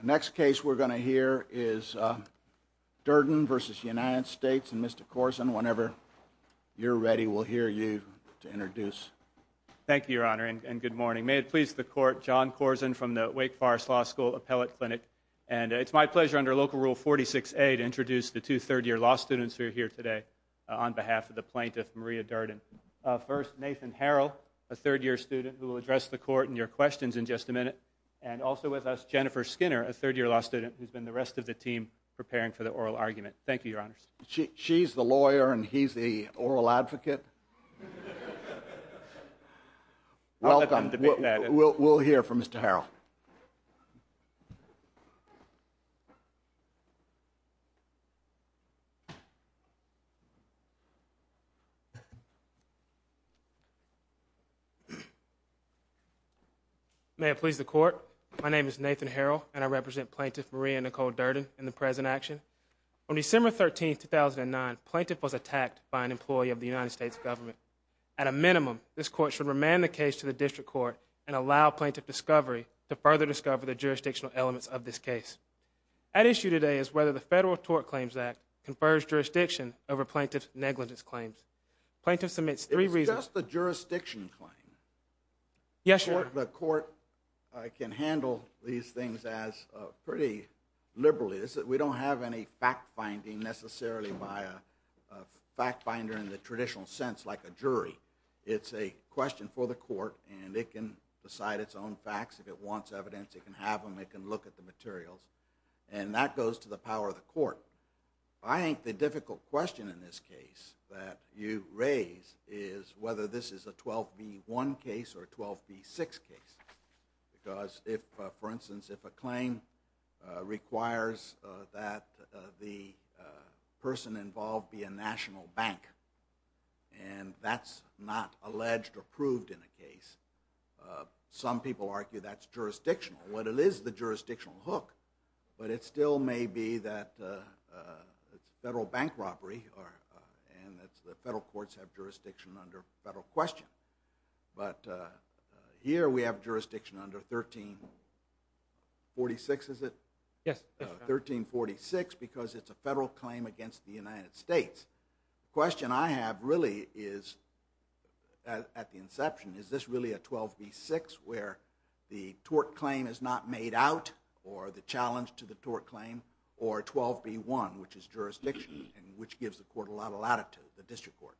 The next case we're going to hear is Durden v. United States, and Mr. Corson, whenever you're ready, we'll hear you to introduce. Thank you, Your Honor, and good morning. May it please the Court, John Corson from the Wake Forest Law School Appellate Clinic, and it's my pleasure under Local Rule 46A to introduce the two third-year law students who are here today on behalf of the plaintiff, Maria Durden. First, Nathan Harrell, a third-year student who will address the Court and your questions in just a minute, and also with us, Jennifer Skinner, a third-year law student who's been the rest of the team preparing for the oral argument. Thank you, Your Honors. She's the lawyer and he's the oral advocate. Welcome. We'll hear from Mr. Harrell. May it please the Court, my name is Nathan Harrell, and I represent Plaintiff Maria Nicole On December 13, 2009, Plaintiff was attacked by an employee of the United States government. At a minimum, this Court should remand the case to the District Court and allow Plaintiff discovery to further discover the jurisdictional elements of this case. At issue today is whether the Federal Tort Claims Act confers jurisdiction over Plaintiff's negligence claims. Plaintiff submits three reasons. Yes, Your Honor. The Court can handle these things pretty liberally. We don't have any fact-finding, necessarily, by a fact-finder in the traditional sense, like a jury. It's a question for the Court, and it can decide its own facts. If it wants evidence, it can have them. It can look at the materials. And that goes to the power of the Court. I think the difficult question in this case that you raise is whether this is a 12B1 case or a 12B6 case. Because if, for instance, if a claim requires that the person involved be a national bank, and that's not alleged or proved in a case, some people argue that's jurisdictional. Well, it is the federal courts have jurisdiction under federal question. But here we have jurisdiction under 1346, is it? Yes. 1346, because it's a federal claim against the United States. The question I have really is, at the inception, is this really a 12B6 where the tort claim is not made out, or the challenge to the tort claim, or 12B1, which is jurisdiction, and which gives the Court a lot of latitude, the District Court.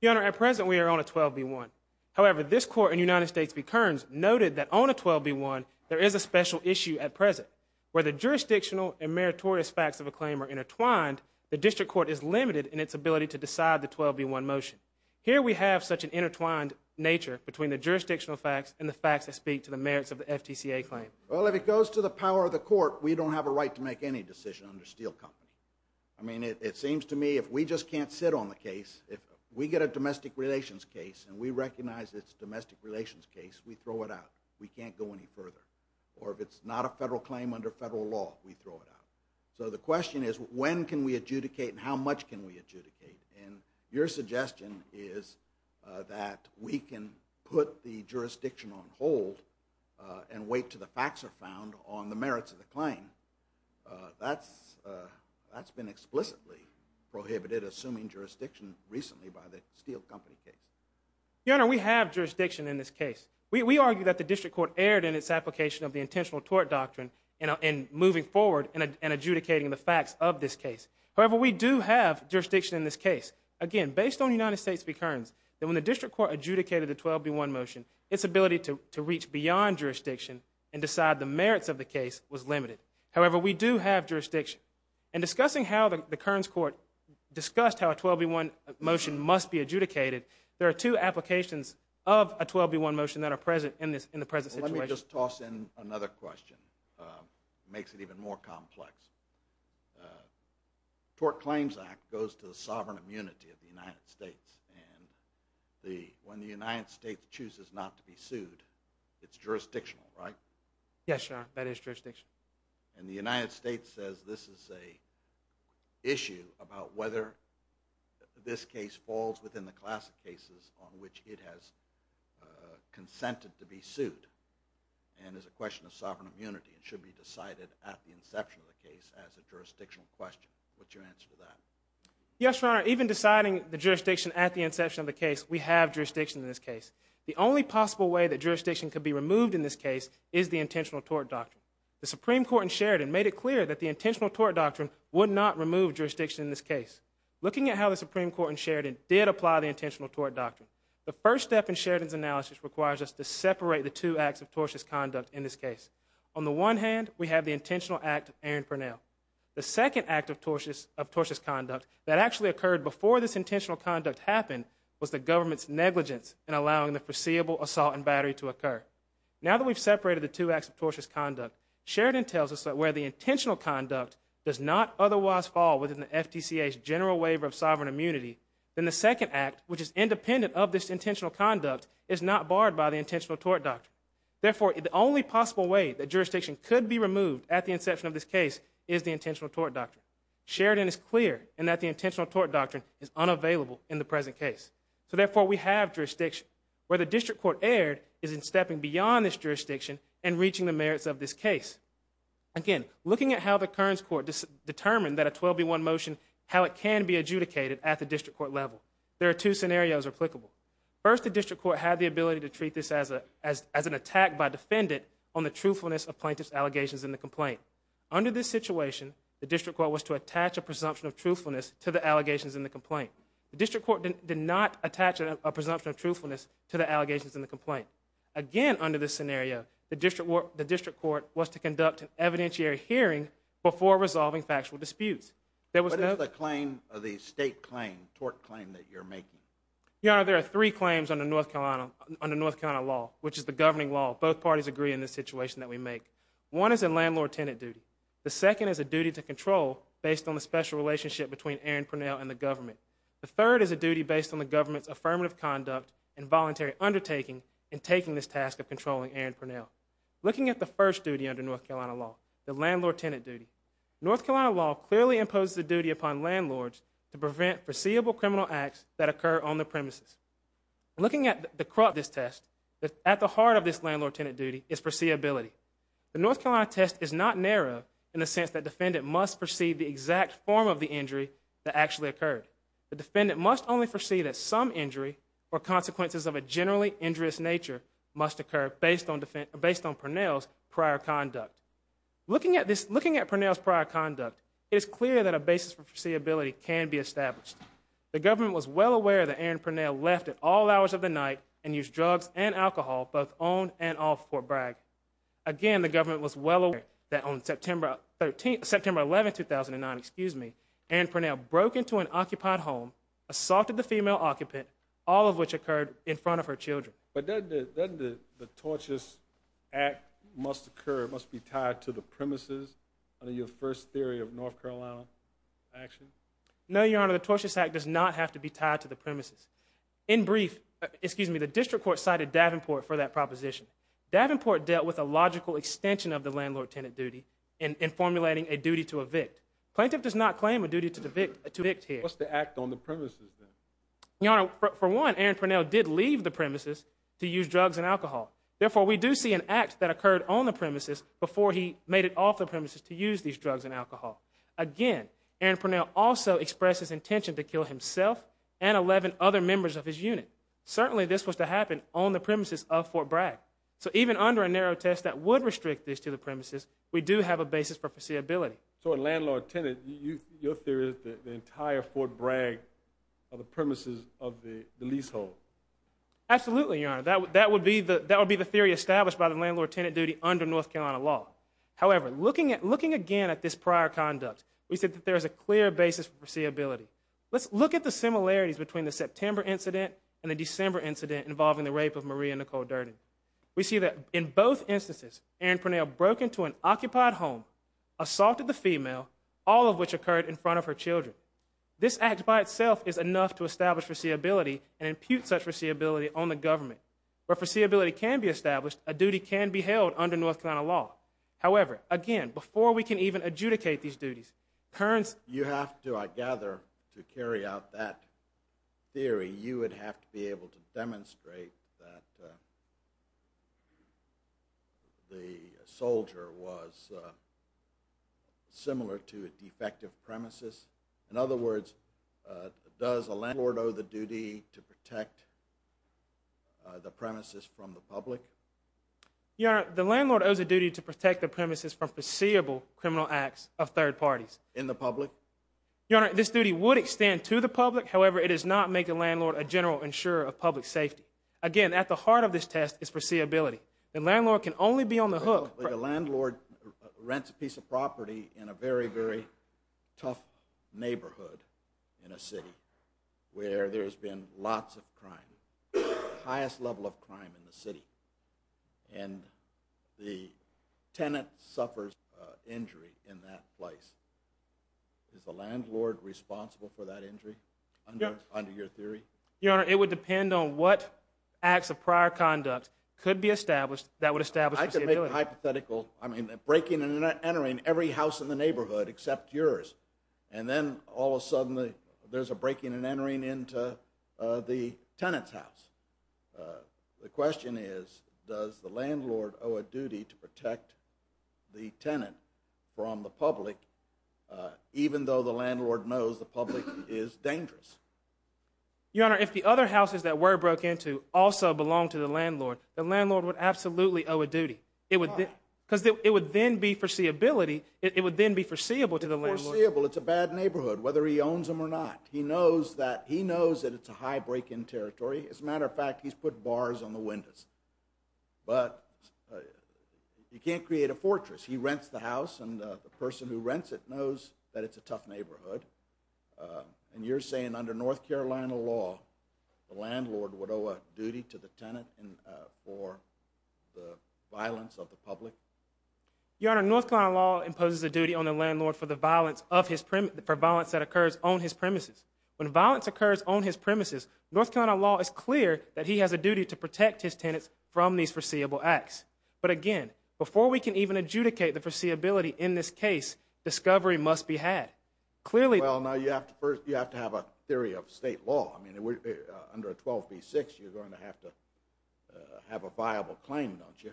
Your Honor, at present, we are on a 12B1. However, this Court in the United States v. Kearns noted that on a 12B1, there is a special issue at present, where the jurisdictional and meritorious facts of a claim are intertwined, the District Court is limited in its ability to decide the 12B1 motion. Here we have such an intertwined nature between the jurisdictional facts and the facts that speak to the merits of the FTCA claim. Well, if it goes to the power of the Court, we don't have a right to make any decision under Steel Company. I mean, it seems to me if we just can't sit on the case, if we get a domestic relations case and we recognize it's a domestic relations case, we throw it out. We can't go any further. Or if it's not a federal claim under federal law, we throw it out. So the question is, when can we adjudicate and how much can we adjudicate? And your suggestion is that we can put the jurisdiction on hold and wait until the facts are found on the merits of the claim. That's been explicitly prohibited, assuming jurisdiction recently by the Steel Company case. Your Honor, we have jurisdiction in this case. We argue that the District Court erred in its application of the intentional tort doctrine in moving forward and adjudicating the facts of this case. However, we do have jurisdiction in this case. Again, based on United States v. Kearns, that when the District Court adjudicated the 12B1 motion, its ability to reach beyond jurisdiction and decide the merits of the case was limited. However, we do have jurisdiction. In discussing how the Kearns Court discussed how a 12B1 motion must be adjudicated, there are two applications of a 12B1 motion that are present in the present situation. Let me just toss in another question. It makes it even more complex. The Tort Claims Act goes to the sovereign immunity of the United States. And when the United States chooses not to be sued, it's jurisdictional, right? Yes, Your Honor. That is jurisdictional. And the United States says this is an issue about whether this case falls within the class of cases on which it has consented to be sued and is a question of sovereign immunity and should be decided at the inception of the case as a jurisdictional question. What's your answer to that? Yes, Your Honor. Even deciding the jurisdiction at the inception of the case, we have jurisdiction in this case. The only possible way that jurisdiction could be removed in this case is the Intentional Tort Doctrine. The Supreme Court in Sheridan made it clear that the Intentional Tort Doctrine would not remove jurisdiction in this case. Looking at how the Supreme Court in Sheridan did apply the Intentional Tort Doctrine, the first step in Sheridan's analysis requires us to separate the two acts of tortious conduct in this case. On the one hand, we have the Intentional Act of Aaron Purnell. The second act of tortious conduct that actually occurred before this intentional conduct happened was the government's negligence in allowing the foreseeable assault and battery to occur. Now that we've separated the two acts of tortious conduct, Sheridan tells us that where the intentional conduct does not otherwise fall within the FTCA's general waiver of sovereign immunity, then the second act, which is independent of this intentional conduct, is not barred by the Intentional Tort Doctrine. Therefore, the only possible way that jurisdiction could be removed at the inception of this case is the Intentional Tort Doctrine. Sheridan is clear in that the Intentional Tort Doctrine is unavailable in the present case. So therefore, we have jurisdiction. Where the District Court erred is in stepping beyond this jurisdiction and reaching the merits of this case. Again, looking at how the Kearns Court determined that a 12B1 motion, how it can be adjudicated at the District Court level, there are two scenarios applicable. First, the District Court had the ability to treat this as an attack by a defendant on the truthfulness of plaintiff's allegations in the complaint. Under this situation, the District Court was to attach a presumption of truthfulness to the allegations in the complaint. The District Court did not attach a presumption of truthfulness to the allegations in the complaint. Again, under this scenario, the District Court was to conduct an evidentiary hearing before resolving factual disputes. What is the claim, the state claim, tort claim that you're making? Your Honor, there are three claims under North Carolina law, which is the governing law. Both parties agree in this situation that we make. One is a landlord-tenant duty. The second is a duty to control based on the special relationship between Aaron Purnell and the government. The third is a duty based on the government's affirmative conduct and voluntary undertaking in taking this task of controlling Aaron Purnell. Looking at the first duty under North Carolina law, the landlord-tenant duty, North Carolina law clearly imposes a duty upon landlords to prevent foreseeable criminal acts that occur on the premises. Looking at the crux of this test, at the heart of this landlord-tenant duty is foreseeability. The North Carolina test is not narrow in the sense that the defendant must foresee the exact form of the injury that actually occurred. The defendant must only foresee that some injury or consequences of a generally injurious nature must occur based on Purnell's prior conduct. Looking at Purnell's prior conduct, it is clear that a basis for foreseeability can be established. The government was well aware that Aaron Purnell left at all hours of the night and used drugs and alcohol both on and off Fort Bragg. Again, the government was well aware that on September 11, 2009, Aaron Purnell broke into an occupied home, assaulted the female occupant, all of which occurred in front of her children. But doesn't the tortious act must occur, must be tied to the premises under your first theory of foreseeability? No, Your Honor, the tortious act does not have to be tied to the premises. In brief, the district court cited Davenport for that proposition. Davenport dealt with a logical extension of the landlord-tenant duty in formulating a duty to evict. Plaintiff does not claim a duty to evict here. What's the act on the premises then? Your Honor, for one, Aaron Purnell did leave the premises to use drugs and alcohol. Therefore, we do see an act that occurred on the premises before he made it off the premises to use these drugs and express his intention to kill himself and 11 other members of his unit. Certainly, this was to happen on the premises of Fort Bragg. So even under a narrow test that would restrict this to the premises, we do have a basis for foreseeability. So a landlord-tenant, your theory is that the entire Fort Bragg are the premises of the leasehold? Absolutely, Your Honor. That would be the theory established by the landlord-tenant duty under North Carolina law. However, looking again at this prior conduct, we see that there is a clear basis for foreseeability. Let's look at the similarities between the September incident and the December incident involving the rape of Maria Nicole Durden. We see that in both instances, Aaron Purnell broke into an occupied home, assaulted the female, all of which occurred in front of her children. This act by itself is enough to establish foreseeability and impute such foreseeability on the government. Where foreseeability can be established, a duty can be held under North Carolina law. However, again, before we can even adjudicate these duties, currents... You have to, I gather, to carry out that theory, you would have to be able to demonstrate that the soldier was similar to a defective premises. In other words, does a landlord owe the duty to protect the premises from the public? Your Honor, the landlord owes a duty to protect the premises from foreseeable criminal acts of third parties. In the public? Your Honor, this duty would extend to the public. However, it does not make a landlord a general insurer of public safety. Again, at the heart of this test is foreseeability. The landlord can only be on the hook... The landlord rents a piece of property in a very, very tough neighborhood in a city where there's been lots of crime, the highest level of crime in the city, and the tenant suffers injury in that place. Is the landlord responsible for that injury under your theory? Your Honor, it would depend on what acts of prior conduct could be established that would establish foreseeability. I could make a hypothetical breaking and entering every house in the neighborhood except yours, and then all of a sudden there's a breaking and entering into the tenant's house. The question is does the landlord owe a duty to protect the tenant from the public even though the landlord knows the public is dangerous? Your Honor, if the other houses that were broke into also belonged to the landlord, the landlord would absolutely owe a duty. Why? Because it would then be foreseeability. It would then be foreseeable to the landlord. It's foreseeable. It's a bad neighborhood whether he owns them or not. He knows that it's a high break-in territory. As a matter of fact, he's put bars on the windows. You can't create a fortress. He rents the house, and the person who rents it knows that it's a tough neighborhood. You're saying under North Carolina law, the landlord would owe a duty to the tenant for the violence of the public? Your Honor, North Carolina law imposes a duty on the landlord for the violence that occurs on his premises. When violence occurs on his premises, North Carolina law is clear that he has a duty to protect his tenants from these foreseeable acts. But again, before we can even adjudicate the foreseeability in this case, discovery must be had. Well, now you have to have a theory of state law. Under 12b-6, you're going to have to have a viable claim, don't you?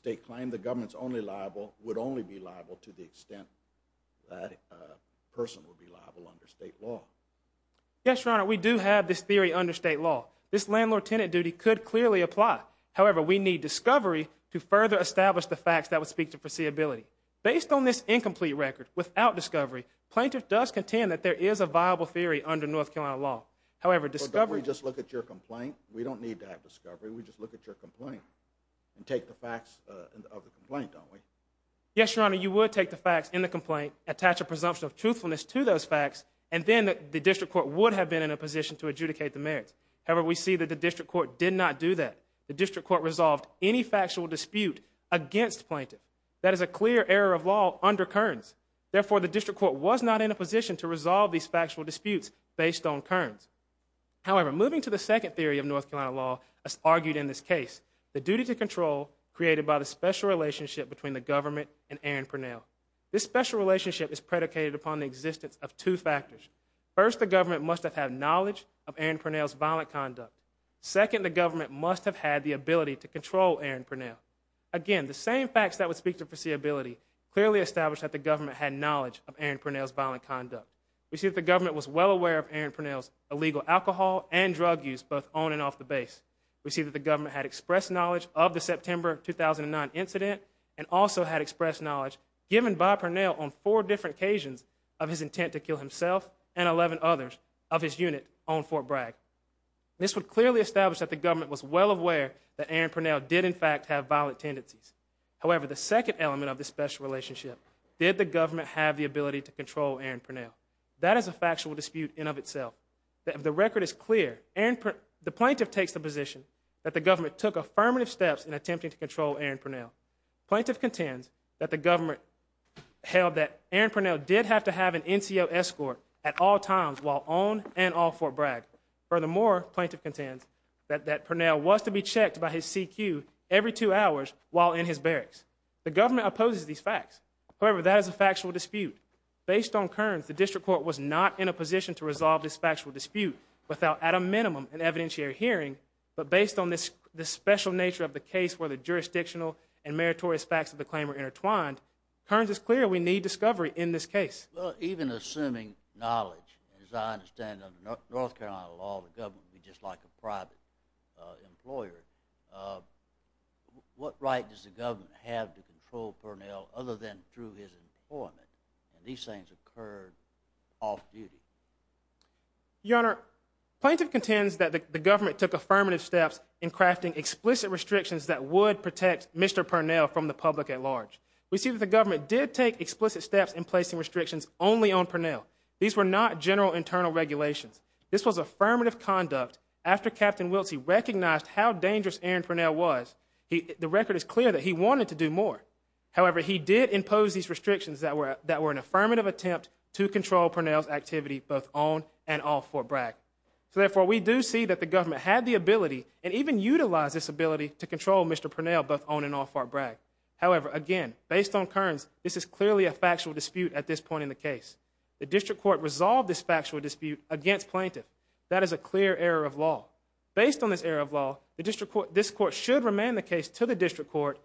State claim, the government's only liable, would only be liable to the extent that a person would be liable under state law. Yes, Your Honor, we do have this theory under state law. This landlord-tenant duty could clearly apply. However, we need discovery to further establish the facts that would speak to foreseeability. Based on this incomplete record, without discovery, plaintiff does contend that there is a viable theory under North Carolina law. However, discovery... Well, don't we just look at your complaint? We don't need to have discovery. We just look at your complaint and take the facts of the complaint, don't we? Yes, Your Honor, you would take the facts in the complaint, attach a presumption of truthfulness to those facts, and then the district court would have been in a position to adjudicate the merits. However, we see that the district court did not do that. The district court resolved any factual dispute against plaintiff. That is a clear error of law under Kearns. Therefore, the district court was not in a position to resolve these factual disputes based on Kearns. However, moving to the second theory of North Carolina law, as argued in this case, the duty to control created by the special relationship between the government and Aaron Purnell. This special relationship is predicated upon the existence of two factors. First, the government must have had knowledge of Aaron Purnell's violent conduct. Second, the government must have had the ability to control Aaron Purnell. Again, the same facts that would speak to foreseeability clearly establish that the government had knowledge of Aaron Purnell's violent conduct. We see that the government was well aware of Aaron Purnell's illegal alcohol and drug use, both on and off the base. We see that the government had expressed knowledge of the September 2009 incident and also had expressed knowledge given by Purnell on four different occasions of his intent to kill himself and 11 others of his unit on Fort Bragg. This would clearly establish that the government was well aware that Aaron Purnell did in fact have violent tendencies. However, the second element of this special relationship, did the government have the ability to control Aaron Purnell? That is a factual dispute in of itself. The record is clear. The plaintiff takes the position that the government took affirmative steps in attempting to control Aaron Purnell. Plaintiff contends that the government held that Aaron Purnell did have to have an NCO escort at all times while on and off Fort Bragg. Furthermore, plaintiff contends that Purnell was to be checked by his CQ every two hours while in his barracks. The government opposes these facts. However, that is a factual dispute. Based on Kearns, the district court was not in a position to resolve this factual dispute without at a minimum an evidentiary hearing, but based on this special nature of the case where the jurisdictional and meritorious facts of the claim are intertwined, Kearns is clear we need discovery in this case. Well, even assuming knowledge, as I understand it under North Carolina law, the government would be just like a private employer. What right does the government have to control Purnell other than through his employment? And these things occurred off-duty. Your Honor, plaintiff contends that the government took affirmative steps in crafting explicit restrictions that would protect Mr. Purnell from the public at large. We see that the government did take explicit steps in placing restrictions only on Purnell. These were not general internal regulations. This was affirmative conduct after Captain Wilsey recognized how dangerous Aaron Purnell was. The record is clear that he wanted to do more. However, he did impose these restrictions that were an affirmative attempt to control Purnell's activity both on and off Fort Bragg. So therefore, we do see that the government had the ability and even utilized this ability to control Mr. Purnell both on and off Fort Bragg. However, again, based on Kearns, this is clearly a factual dispute at this point in the case. The district court resolved this factual dispute against plaintiff. That is a clear error of law. Based on this error of law, this court should remand the case to the district court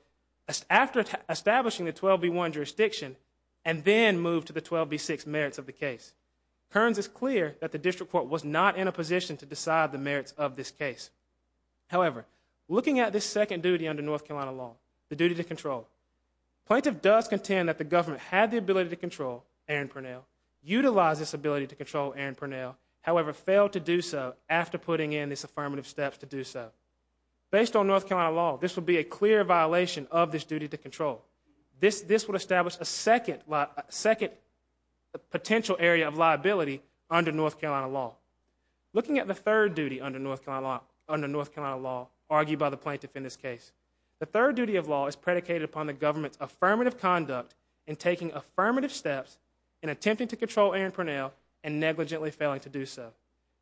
after establishing the 12B1 jurisdiction and then move to the 12B6 merits of the case. Kearns is clear that the district court was not in a position to decide the merits of this case. However, looking at this second duty under North Carolina law, the duty to control, plaintiff does contend that the government had the ability to control Aaron Purnell, utilized this ability to control Aaron Purnell, however, failed to do so after putting in these affirmative steps to do so. Based on North Carolina law, this would be a clear violation of this duty to control. This would establish a second potential area of liability under North Carolina law. Looking at the third duty under North Carolina law argued by the plaintiff in this case, the third duty of law is predicated upon the government's affirmative conduct in taking affirmative steps in attempting to control Aaron Purnell and negligently failing to do so.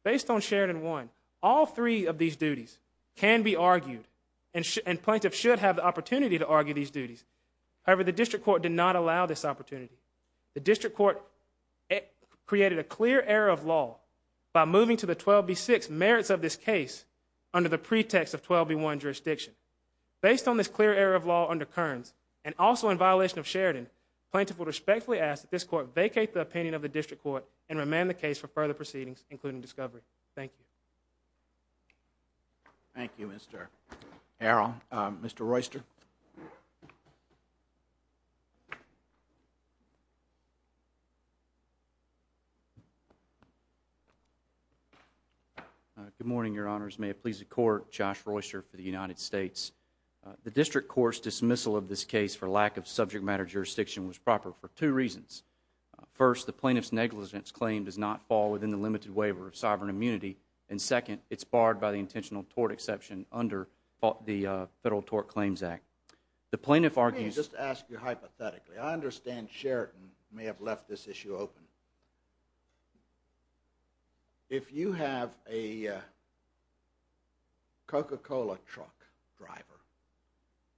Based on Sheridan 1, all three of these duties can be argued and plaintiff should have the opportunity to argue these duties. However, the district court did not allow this opportunity. The district court created a clear error of law by moving to the 12B6 merits of this case under the pretext of 12B1 jurisdiction. Based on this clear error of law under Kearns and also in violation of Sheridan, plaintiff would respectfully ask that this court vacate the opinion of the district court and remand the case for further proceedings including discovery. Thank you. Thank you, Mr. Harrell. Mr. Royster. Good morning, Your Honors. May it please the Court. Josh Royster for the United States. The district court's dismissal of this case for lack of subject matter jurisdiction was proper for two reasons. First, the plaintiff's negligence claim does not fall within the limited waiver of sovereign immunity and second, it's barred by the intentional tort exception under the Federal Tort Claims Act. The plaintiff argues... Let me just ask you hypothetically. I understand Sheridan may have left this issue open. If you have a Coca-Cola truck driver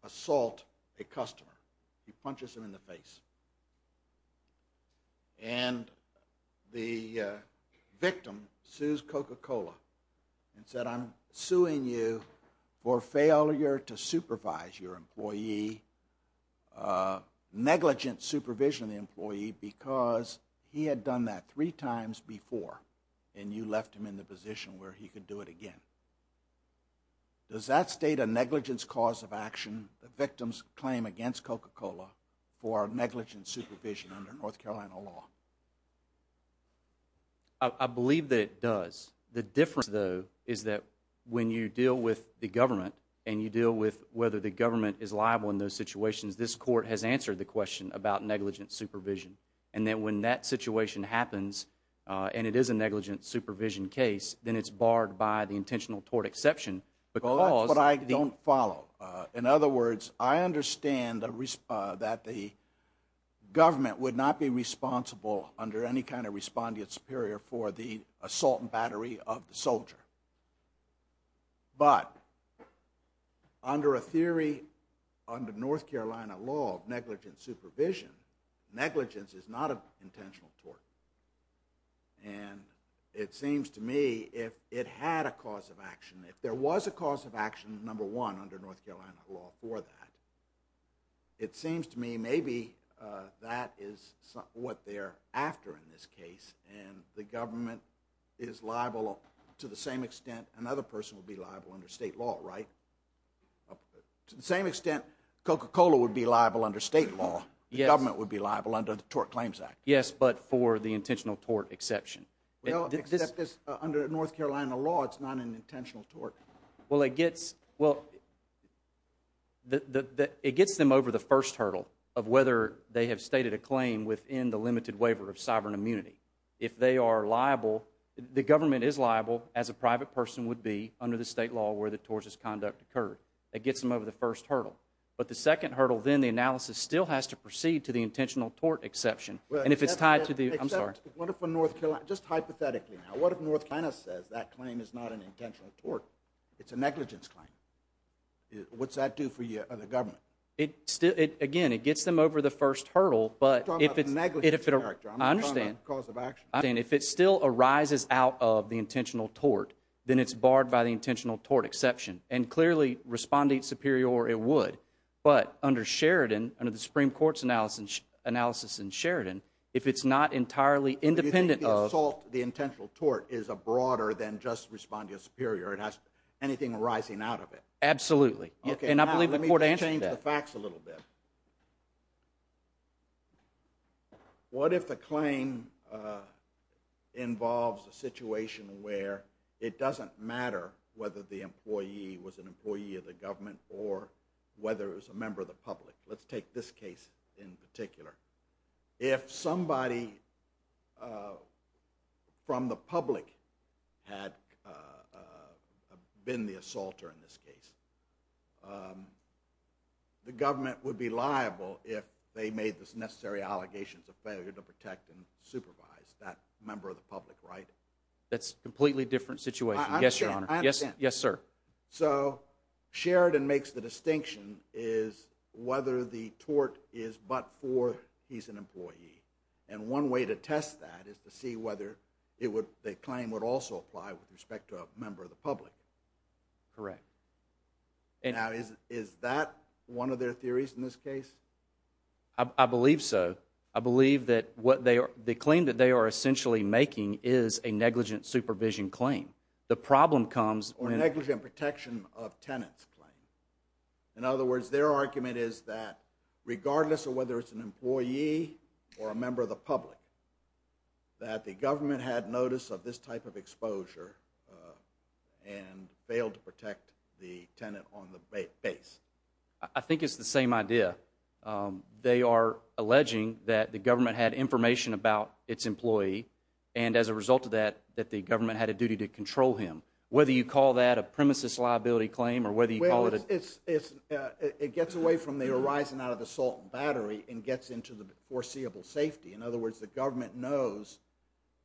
assault a customer, he punches him in the face and the victim sues Coca-Cola and said, I'm suing you for failure to supervise your employee, negligent supervision of the employee because he had done that three times before and you left him in the position where he could do it again. Does that state a negligence cause of action the victim's claim against Coca-Cola for negligent supervision under North Carolina law? I believe that it does. The difference though is that when you deal with the government and you deal with whether the government is liable in those situations, this court has answered the question about negligent supervision and then when that situation happens and it is a negligent supervision case, then it's barred by the intentional tort exception because... That's what I don't follow. In other words, I understand that the government would not be responsible under any kind of respondent superior for the assault and battery of the soldier, but under a theory, under North Carolina law of negligent supervision, negligence is not an intentional tort and it seems to me if it had a cause of action, if there was a cause of action, number one, under North Carolina law for that, it seems to me maybe that is what they're after in this case and the government is liable to the same extent another person would be liable under state law, right? To the same extent Coca-Cola would be liable under state law, the government would be liable under the Tort Claims Act. Yes, but for the intentional tort exception. Well, except under North Carolina law, it's not an intentional tort. Well, it gets, well, it gets them over the first hurdle of whether they have stated a claim within the limited waiver of sovereign immunity. If they are liable, the government is liable as a private person would be under the state law where the tortious conduct occurred. It gets them over the first hurdle, but the second hurdle, then the analysis still has to proceed to the intentional tort exception and if it's tied to the, I'm sorry. Except, what if for North Carolina, just hypothetically now, what if North Carolina says that claim is not an intentional tort? It's a negligence claim. What's that do for the government? It still, again, it gets them over the first hurdle, but if it's, I understand. If it still arises out of the intentional tort, then it's barred by the intentional tort exception and clearly respondeat superior it would, but under Sheridan, under the Supreme Court's analysis in Sheridan, if it's not entirely independent of, the assault, the intentional tort is a broader than just respondeat superior. It has anything arising out of it. Absolutely. Let me change the facts a little bit. What if the claim involves a situation where it doesn't matter whether the employee was an employee of the government or whether it was a member of the public. Let's take this case in particular. If somebody from the public had been the assaulter in this case, the government would be liable if they made the necessary allegations of failure to protect and supervise that member of the public, right? That's a completely different situation. I understand. Yes, sir. So, Sheridan makes the distinction is whether the tort is but for whether he's an employee. And one way to test that is to see whether the claim would also apply with respect to a member of the public. Correct. Now, is that one of their theories in this case? I believe so. I believe that the claim that they are essentially making is a negligent supervision claim. The problem comes... Or negligent protection of tenants claim. In other words, their argument is that regardless of whether it's an employee or a member of the public, that the government had notice of this type of exposure and failed to protect the tenant on the base. I think it's the same idea. They are alleging that the government had information about its employee and as a result of that, that the government had a duty to control him. Whether you call that a premises liability claim or whether you call it... It gets away from the horizon out of the salt and battery and gets into the foreseeable safety. In other words, the government knows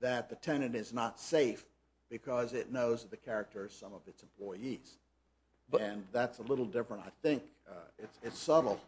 that the tenant is not safe because it knows the character of some of its employees. And that's a little different, I think. It's subtle.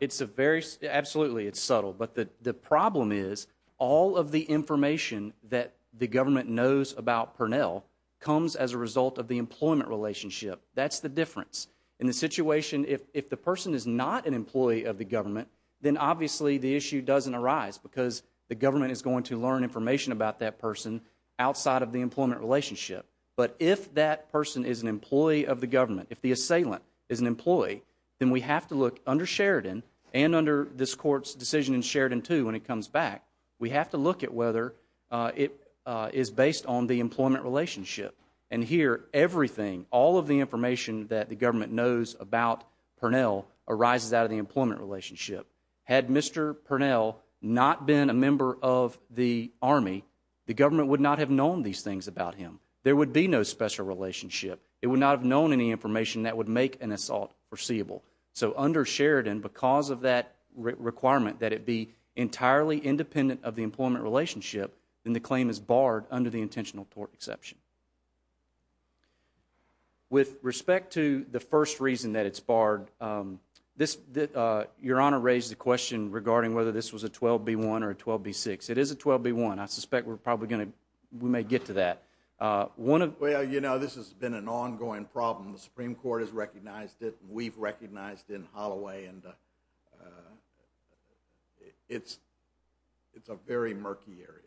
It's a very... Absolutely, it's subtle. But the problem is all of the information that the government knows about Purnell comes as a result of the employment relationship. That's the difference. In the situation, if the person is not an employee of the government, then obviously the issue doesn't arise because the government is going to learn information about that person outside of the employment relationship. But if that person is an employee of the government, if the assailant is an employee, then we have to look under Sheridan and under this court's decision in Sheridan too when it comes back, we have to look at whether it is based on the employment relationship. And here, everything, all of the information that the government knows about Purnell arises out of the employment relationship. Had Mr. Purnell not been a member of the Army, the government would not have known these things about him. There would be no special relationship. It would not have known any information that would make an assault foreseeable. So under Sheridan, because of that requirement that it be entirely independent of the employment relationship, then the claim is barred under the intentional tort exception. With respect to the first reason that it's barred, your Honor raised the question regarding whether this was a 12B1 or a 12B6. It is a 12B1. I suspect we're probably going to, we may get to that. Well, you know, this has been an ongoing problem. The Supreme Court has recognized it. We've recognized it in Holloway. It's a very murky area.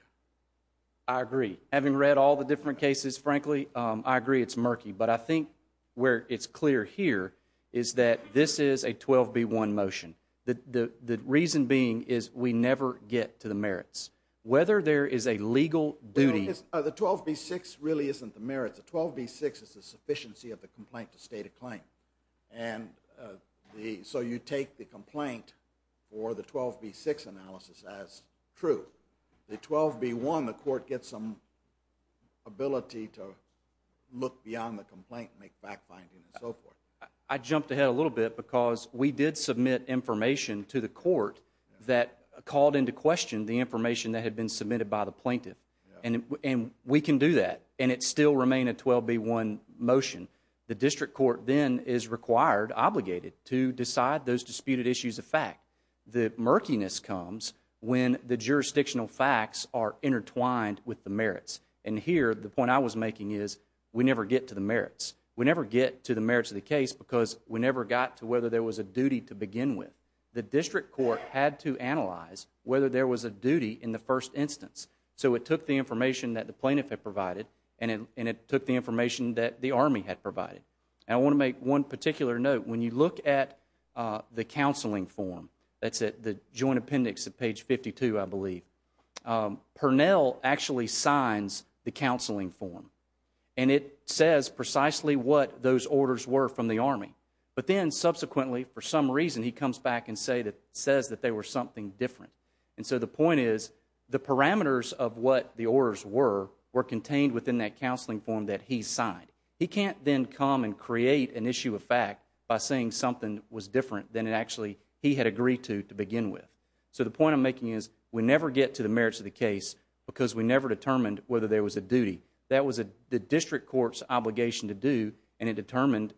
I agree. Having read all the different cases, frankly, I agree it's murky. But I think where it's clear here is that this is a 12B1 motion. The reason being is we never get to the merits. Whether there is a legal duty... The 12B6 really isn't the merits. The 12B6 is the sufficiency of the complaint to state a claim. So you take the complaint for the 12B6 analysis as true. The 12B1, the court gets some ability to look beyond the complaint and make fact-finding and so forth. I jumped ahead a little bit because we did submit information to the court that called into question the information that had been submitted by the plaintiff. And we can do that. And it still remained a 12B1 motion. The district court then is required, obligated, to decide those disputed issues of fact. The murkiness comes when the jurisdictional facts are intertwined with the merits. And here, the point I was making is we never get to the merits. We never get to the merits of the case because we never got to whether there was a duty to begin with. The district court had to analyze whether there was a duty in the first instance. So it took the information that the plaintiff had provided and it took the information that the Army had provided. And I want to make one particular note. When you look at the counseling form, that's at the joint appendix at page 52, I believe, Purnell actually signs the counseling form. And it says precisely what those orders were from the Army. But then subsequently, for some reason, he comes back and says that they were something different. And so the point is the parameters of what the orders were were contained within that counseling form that he signed. He can't then come and create an issue of fact by saying something was different than it actually he had agreed to begin with. So the point I'm making is we never get to the merits of the case because we never determined whether there was a duty. That was the district court's obligation to do. And it determined,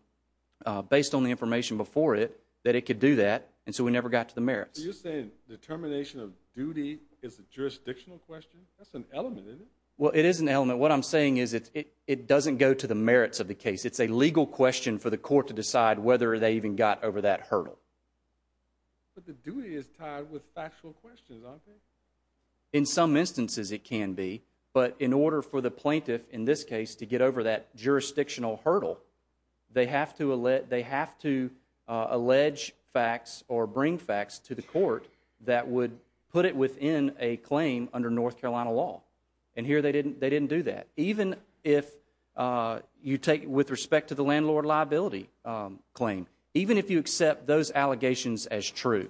based on the information before it, that it could do that. And so we never got to the merits. So you're saying determination of duty is a jurisdictional question? That's an element, isn't it? Well, it is an element. What I'm saying is it doesn't go to the merits of the case. It's a legal question for the court to decide whether they even got over that hurdle. But the duty is tied with factual questions, aren't they? In some instances, it can be. But in order for the plaintiff, in this case, to get over that jurisdictional hurdle, they have to allege facts or bring facts to the court that would put it within a claim under North Carolina law. And here they didn't do that. Even if you take, with respect to the landlord liability claim, even if you accept those allegations as true,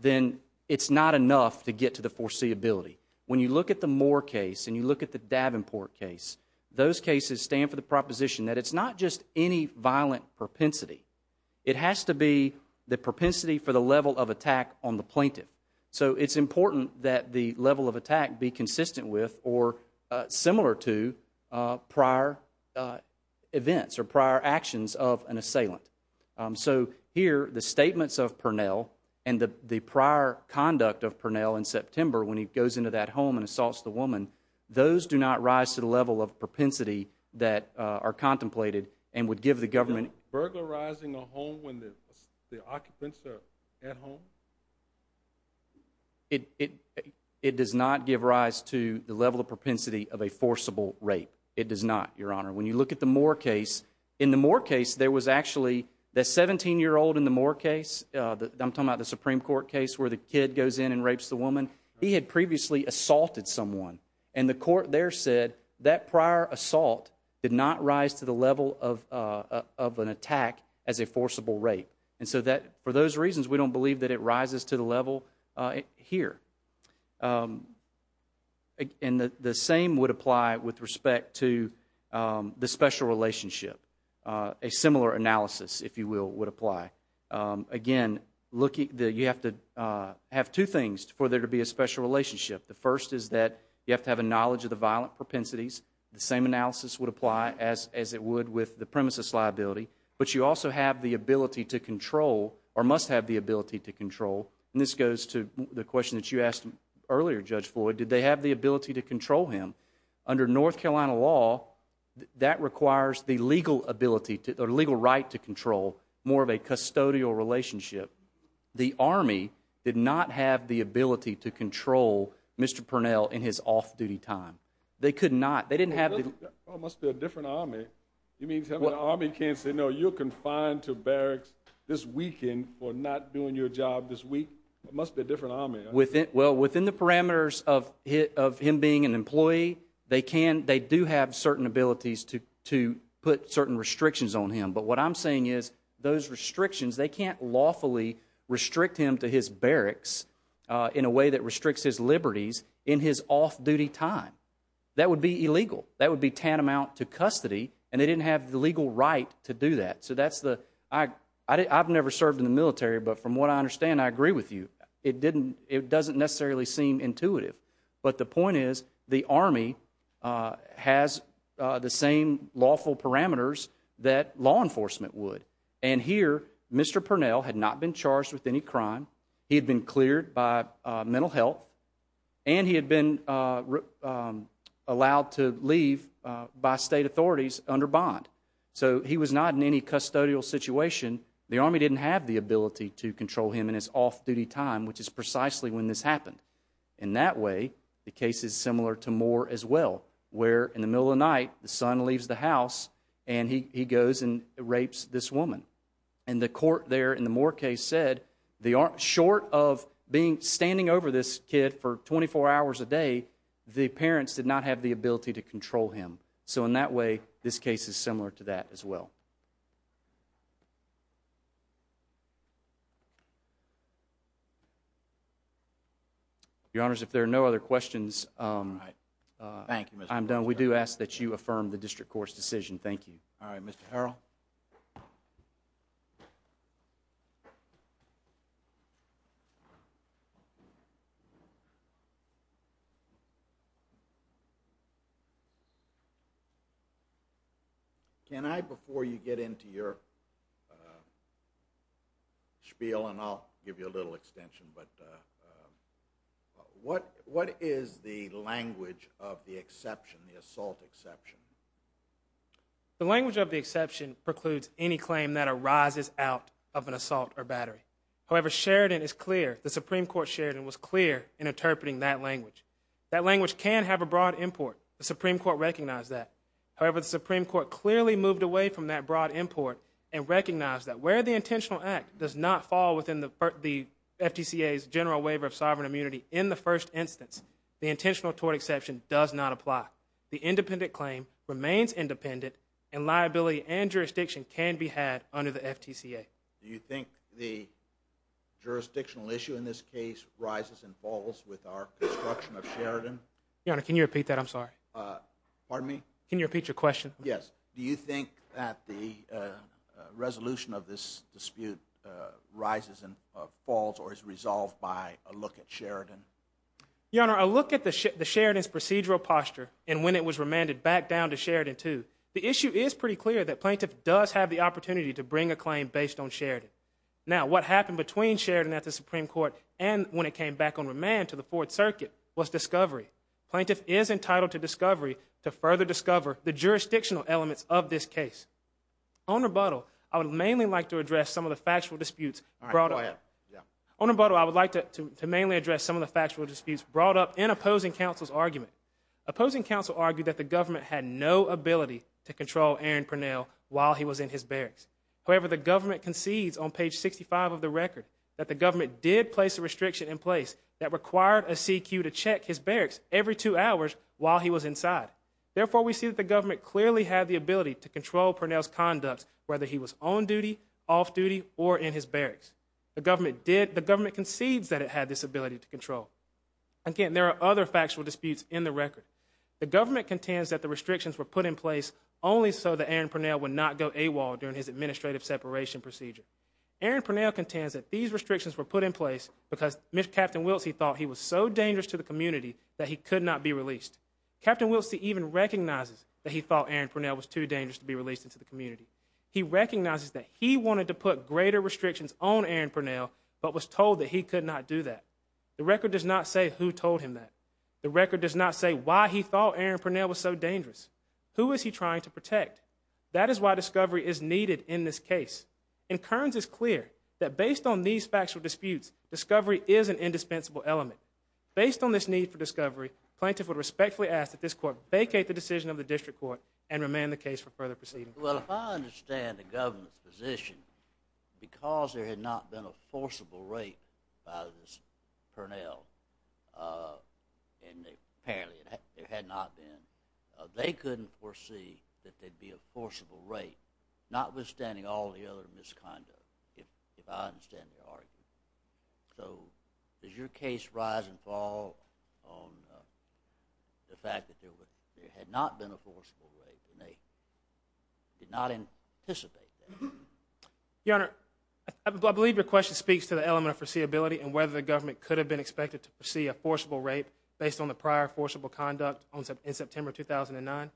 then it's not enough to get to the foreseeability. When you look at the Moore case and you look at the Davenport case, those cases stand for the proposition that it's not just any violent propensity. It has to be the propensity for the level of attack on the plaintiff. So it's important that the level of attack be consistent with or similar to prior events or prior actions of an assailant. So here, the statements of Purnell and the prior conduct of Purnell in September when he goes into that home and assaults the woman, those do not rise to the level of propensity that are contemplated and would give the government... Is a burglar rising a home when the occupants are at home? It does not give rise to the level of propensity of a forcible rape. It does not, Your Honor. When you look at the Moore case, in the Moore case, there was actually... The 17-year-old in the Moore case, I'm talking about the Supreme Court case where the kid goes in and rapes the woman, he had previously assaulted someone. And the court there said that prior assault did not rise to the level of an attack as a forcible rape. And so for those reasons, we don't believe that it rises to the level here. And the same would apply with respect to the special relationship. A similar analysis, if you will, would apply. Again, you have to have two things for there to be a special relationship. The first is that you have to have a knowledge of the violent propensities. The same analysis would apply as it would with the premises liability. But you And this goes to the question that you asked earlier, Judge Floyd. Did they have the ability to control him? Under North Carolina law, that requires the legal ability or legal right to control more of a custodial relationship. The Army did not have the ability to control Mr. Purnell in his off-duty time. They could not. They didn't have the... It must be a different Army. You mean to tell me the Army can't say, no, you're confined to barracks this weekend for not doing your job this week? It must be a different Army. Well, within the parameters of him being an employee, they can they do have certain abilities to put certain restrictions on him. But what I'm saying is those restrictions, they can't lawfully restrict him to his barracks in a way that restricts his liberties in his off-duty time. That would be illegal. That would be tantamount to custody. And they didn't have the legal right to do that. So that's the... I've never served in the military, but from what I understand, I agree with you. It doesn't necessarily seem intuitive. But the point is, the Army has the same lawful parameters that law enforcement would. And here, Mr. Purnell had not been charged with any crime, he had been cleared by mental health, and he had been allowed to leave by state authorities under bond. So he was not in any custodial situation. The Army didn't have the ability to control him in his off-duty time, which is precisely when this happened. And that way, the case is similar to Moore as well, where in the middle of the night, the son leaves the house, and he goes and rapes this woman. And the court there in the Moore case said short of standing over this kid for 24 hours a day, the parents did not have the ability to control him. So in that way, this case is similar to that as well. Your Honors, if there are no other questions, I'm done. We do ask that you affirm the District Court's decision. Thank you. Can I, before you get into your spiel, and I'll give you a little extension, but what is the language of the exception, the assault exception? The language of the exception precludes any claim that arises out of an assault or battery. However, Sheridan is clear, the Supreme Court Sheridan was clear in interpreting that language. That language can have a broad import. The Supreme Court recognized that. However, the Supreme Court clearly moved away from that broad import and recognized that where the intentional act does not fall within the FTCA's general waiver of sovereign immunity in the first instance, the intentional tort exception does not apply. The independent claim remains independent, and liability and jurisdiction can be had under the FTCA. Do you think the jurisdictional issue in this case rises and falls with our construction of Sheridan? Your Honor, can you repeat that? I'm sorry. Pardon me? Can you repeat your question? Yes. Do you think that the resolution of this dispute rises and falls or is resolved by a look at Sheridan? Your Honor, a look at the Sheridan's procedural posture and when it was remanded back down to Sheridan too, the issue is pretty clear that plaintiff does have the opportunity to bring a claim based on Sheridan. Now, what happened between Sheridan at the Supreme Court and when it came back on remand to the Fourth Circuit was discovery. Plaintiff is entitled to discovery to further discover the jurisdictional elements of this case. On rebuttal, I would mainly like to address some of the factual disputes brought up. On rebuttal, I would like to mainly address some of the factual disputes brought up in opposing counsel's argument. Opposing counsel argued that the government had no ability to control Aaron Purnell while he was in his barracks. However, the government concedes on page 65 of the record that the government had no ability to control Aaron Purnell while he was in his barracks. Therefore, we see that the government clearly had the ability to control Purnell's conduct whether he was on duty, off duty, or in his barracks. The government concedes that it had this ability to control. Again, there are other factual disputes in the record. The government contends that the restrictions were put in place only so that Aaron Purnell would not go AWOL during his administrative separation procedure. Aaron Purnell contends that these restrictions were put in place because Captain Wilsey thought he was so dangerous to the community that he could not be released. Captain Wilsey even recognizes that he thought Aaron Purnell was too dangerous to be released into the community. He recognizes that he wanted to put greater restrictions on Aaron Purnell but was told that he could not do that. The record does not say who told him that. The record does not say why he thought Aaron Purnell was so dangerous. Who is he trying to protect? That is why discovery is needed in this case. And Kearns is clear that based on these factual disputes, discovery is an indispensable element. Based on this need for discovery, plaintiff would respectfully ask that this court vacate the decision of the district court and remand the case for further proceeding. Well, if I understand the government's position, because there had not been a forcible rape by this Purnell, and apparently there had not been, they couldn't foresee that there'd be a forcible rape, notwithstanding all the other misconduct, if I understand your argument. So does your case rise and fall on the fact that there had not been a forcible rape and they did not anticipate that? Your Honor, I believe your question speaks to the element of foreseeability and whether the government could have been expected to foresee a forcible rape based on the prior forcible conduct in September 2009.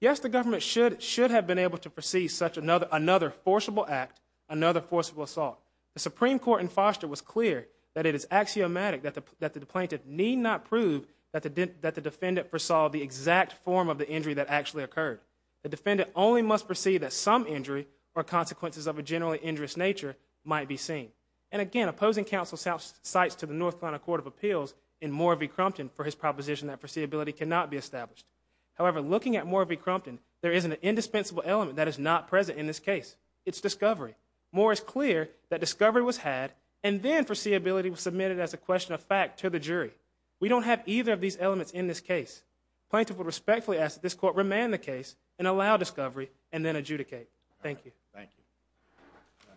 Yes, the government should have been able to foresee another forcible act, another forcible assault. The Supreme Court in Foster was clear that it is axiomatic that the plaintiff need not prove that the defendant foresaw the exact form of the injury that actually occurred. The defendant only must foresee that some injury or consequences of a generally injurious nature might be seen. And again, opposing counsel cites to the North Carolina Court of Appeals in Moore v. Crumpton for his proposition that foreseeability cannot be established. However, looking at the element that is not present in this case, it's discovery. Moore is clear that discovery was had and then foreseeability was submitted as a question of fact to the jury. We don't have either of these elements in this case. Plaintiff will respectfully ask that this Court remand the case and allow discovery and then adjudicate. Thank you. Thank you.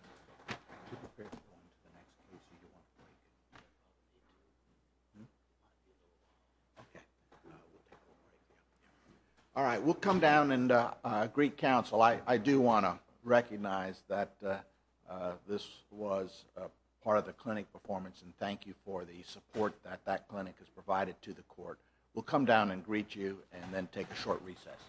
Okay. Alright, we'll come down and greet counsel. I do want to recognize that this was part of the clinic performance and thank you for the support that that clinic has provided to the Court. We'll come down and greet you and then take a short recess.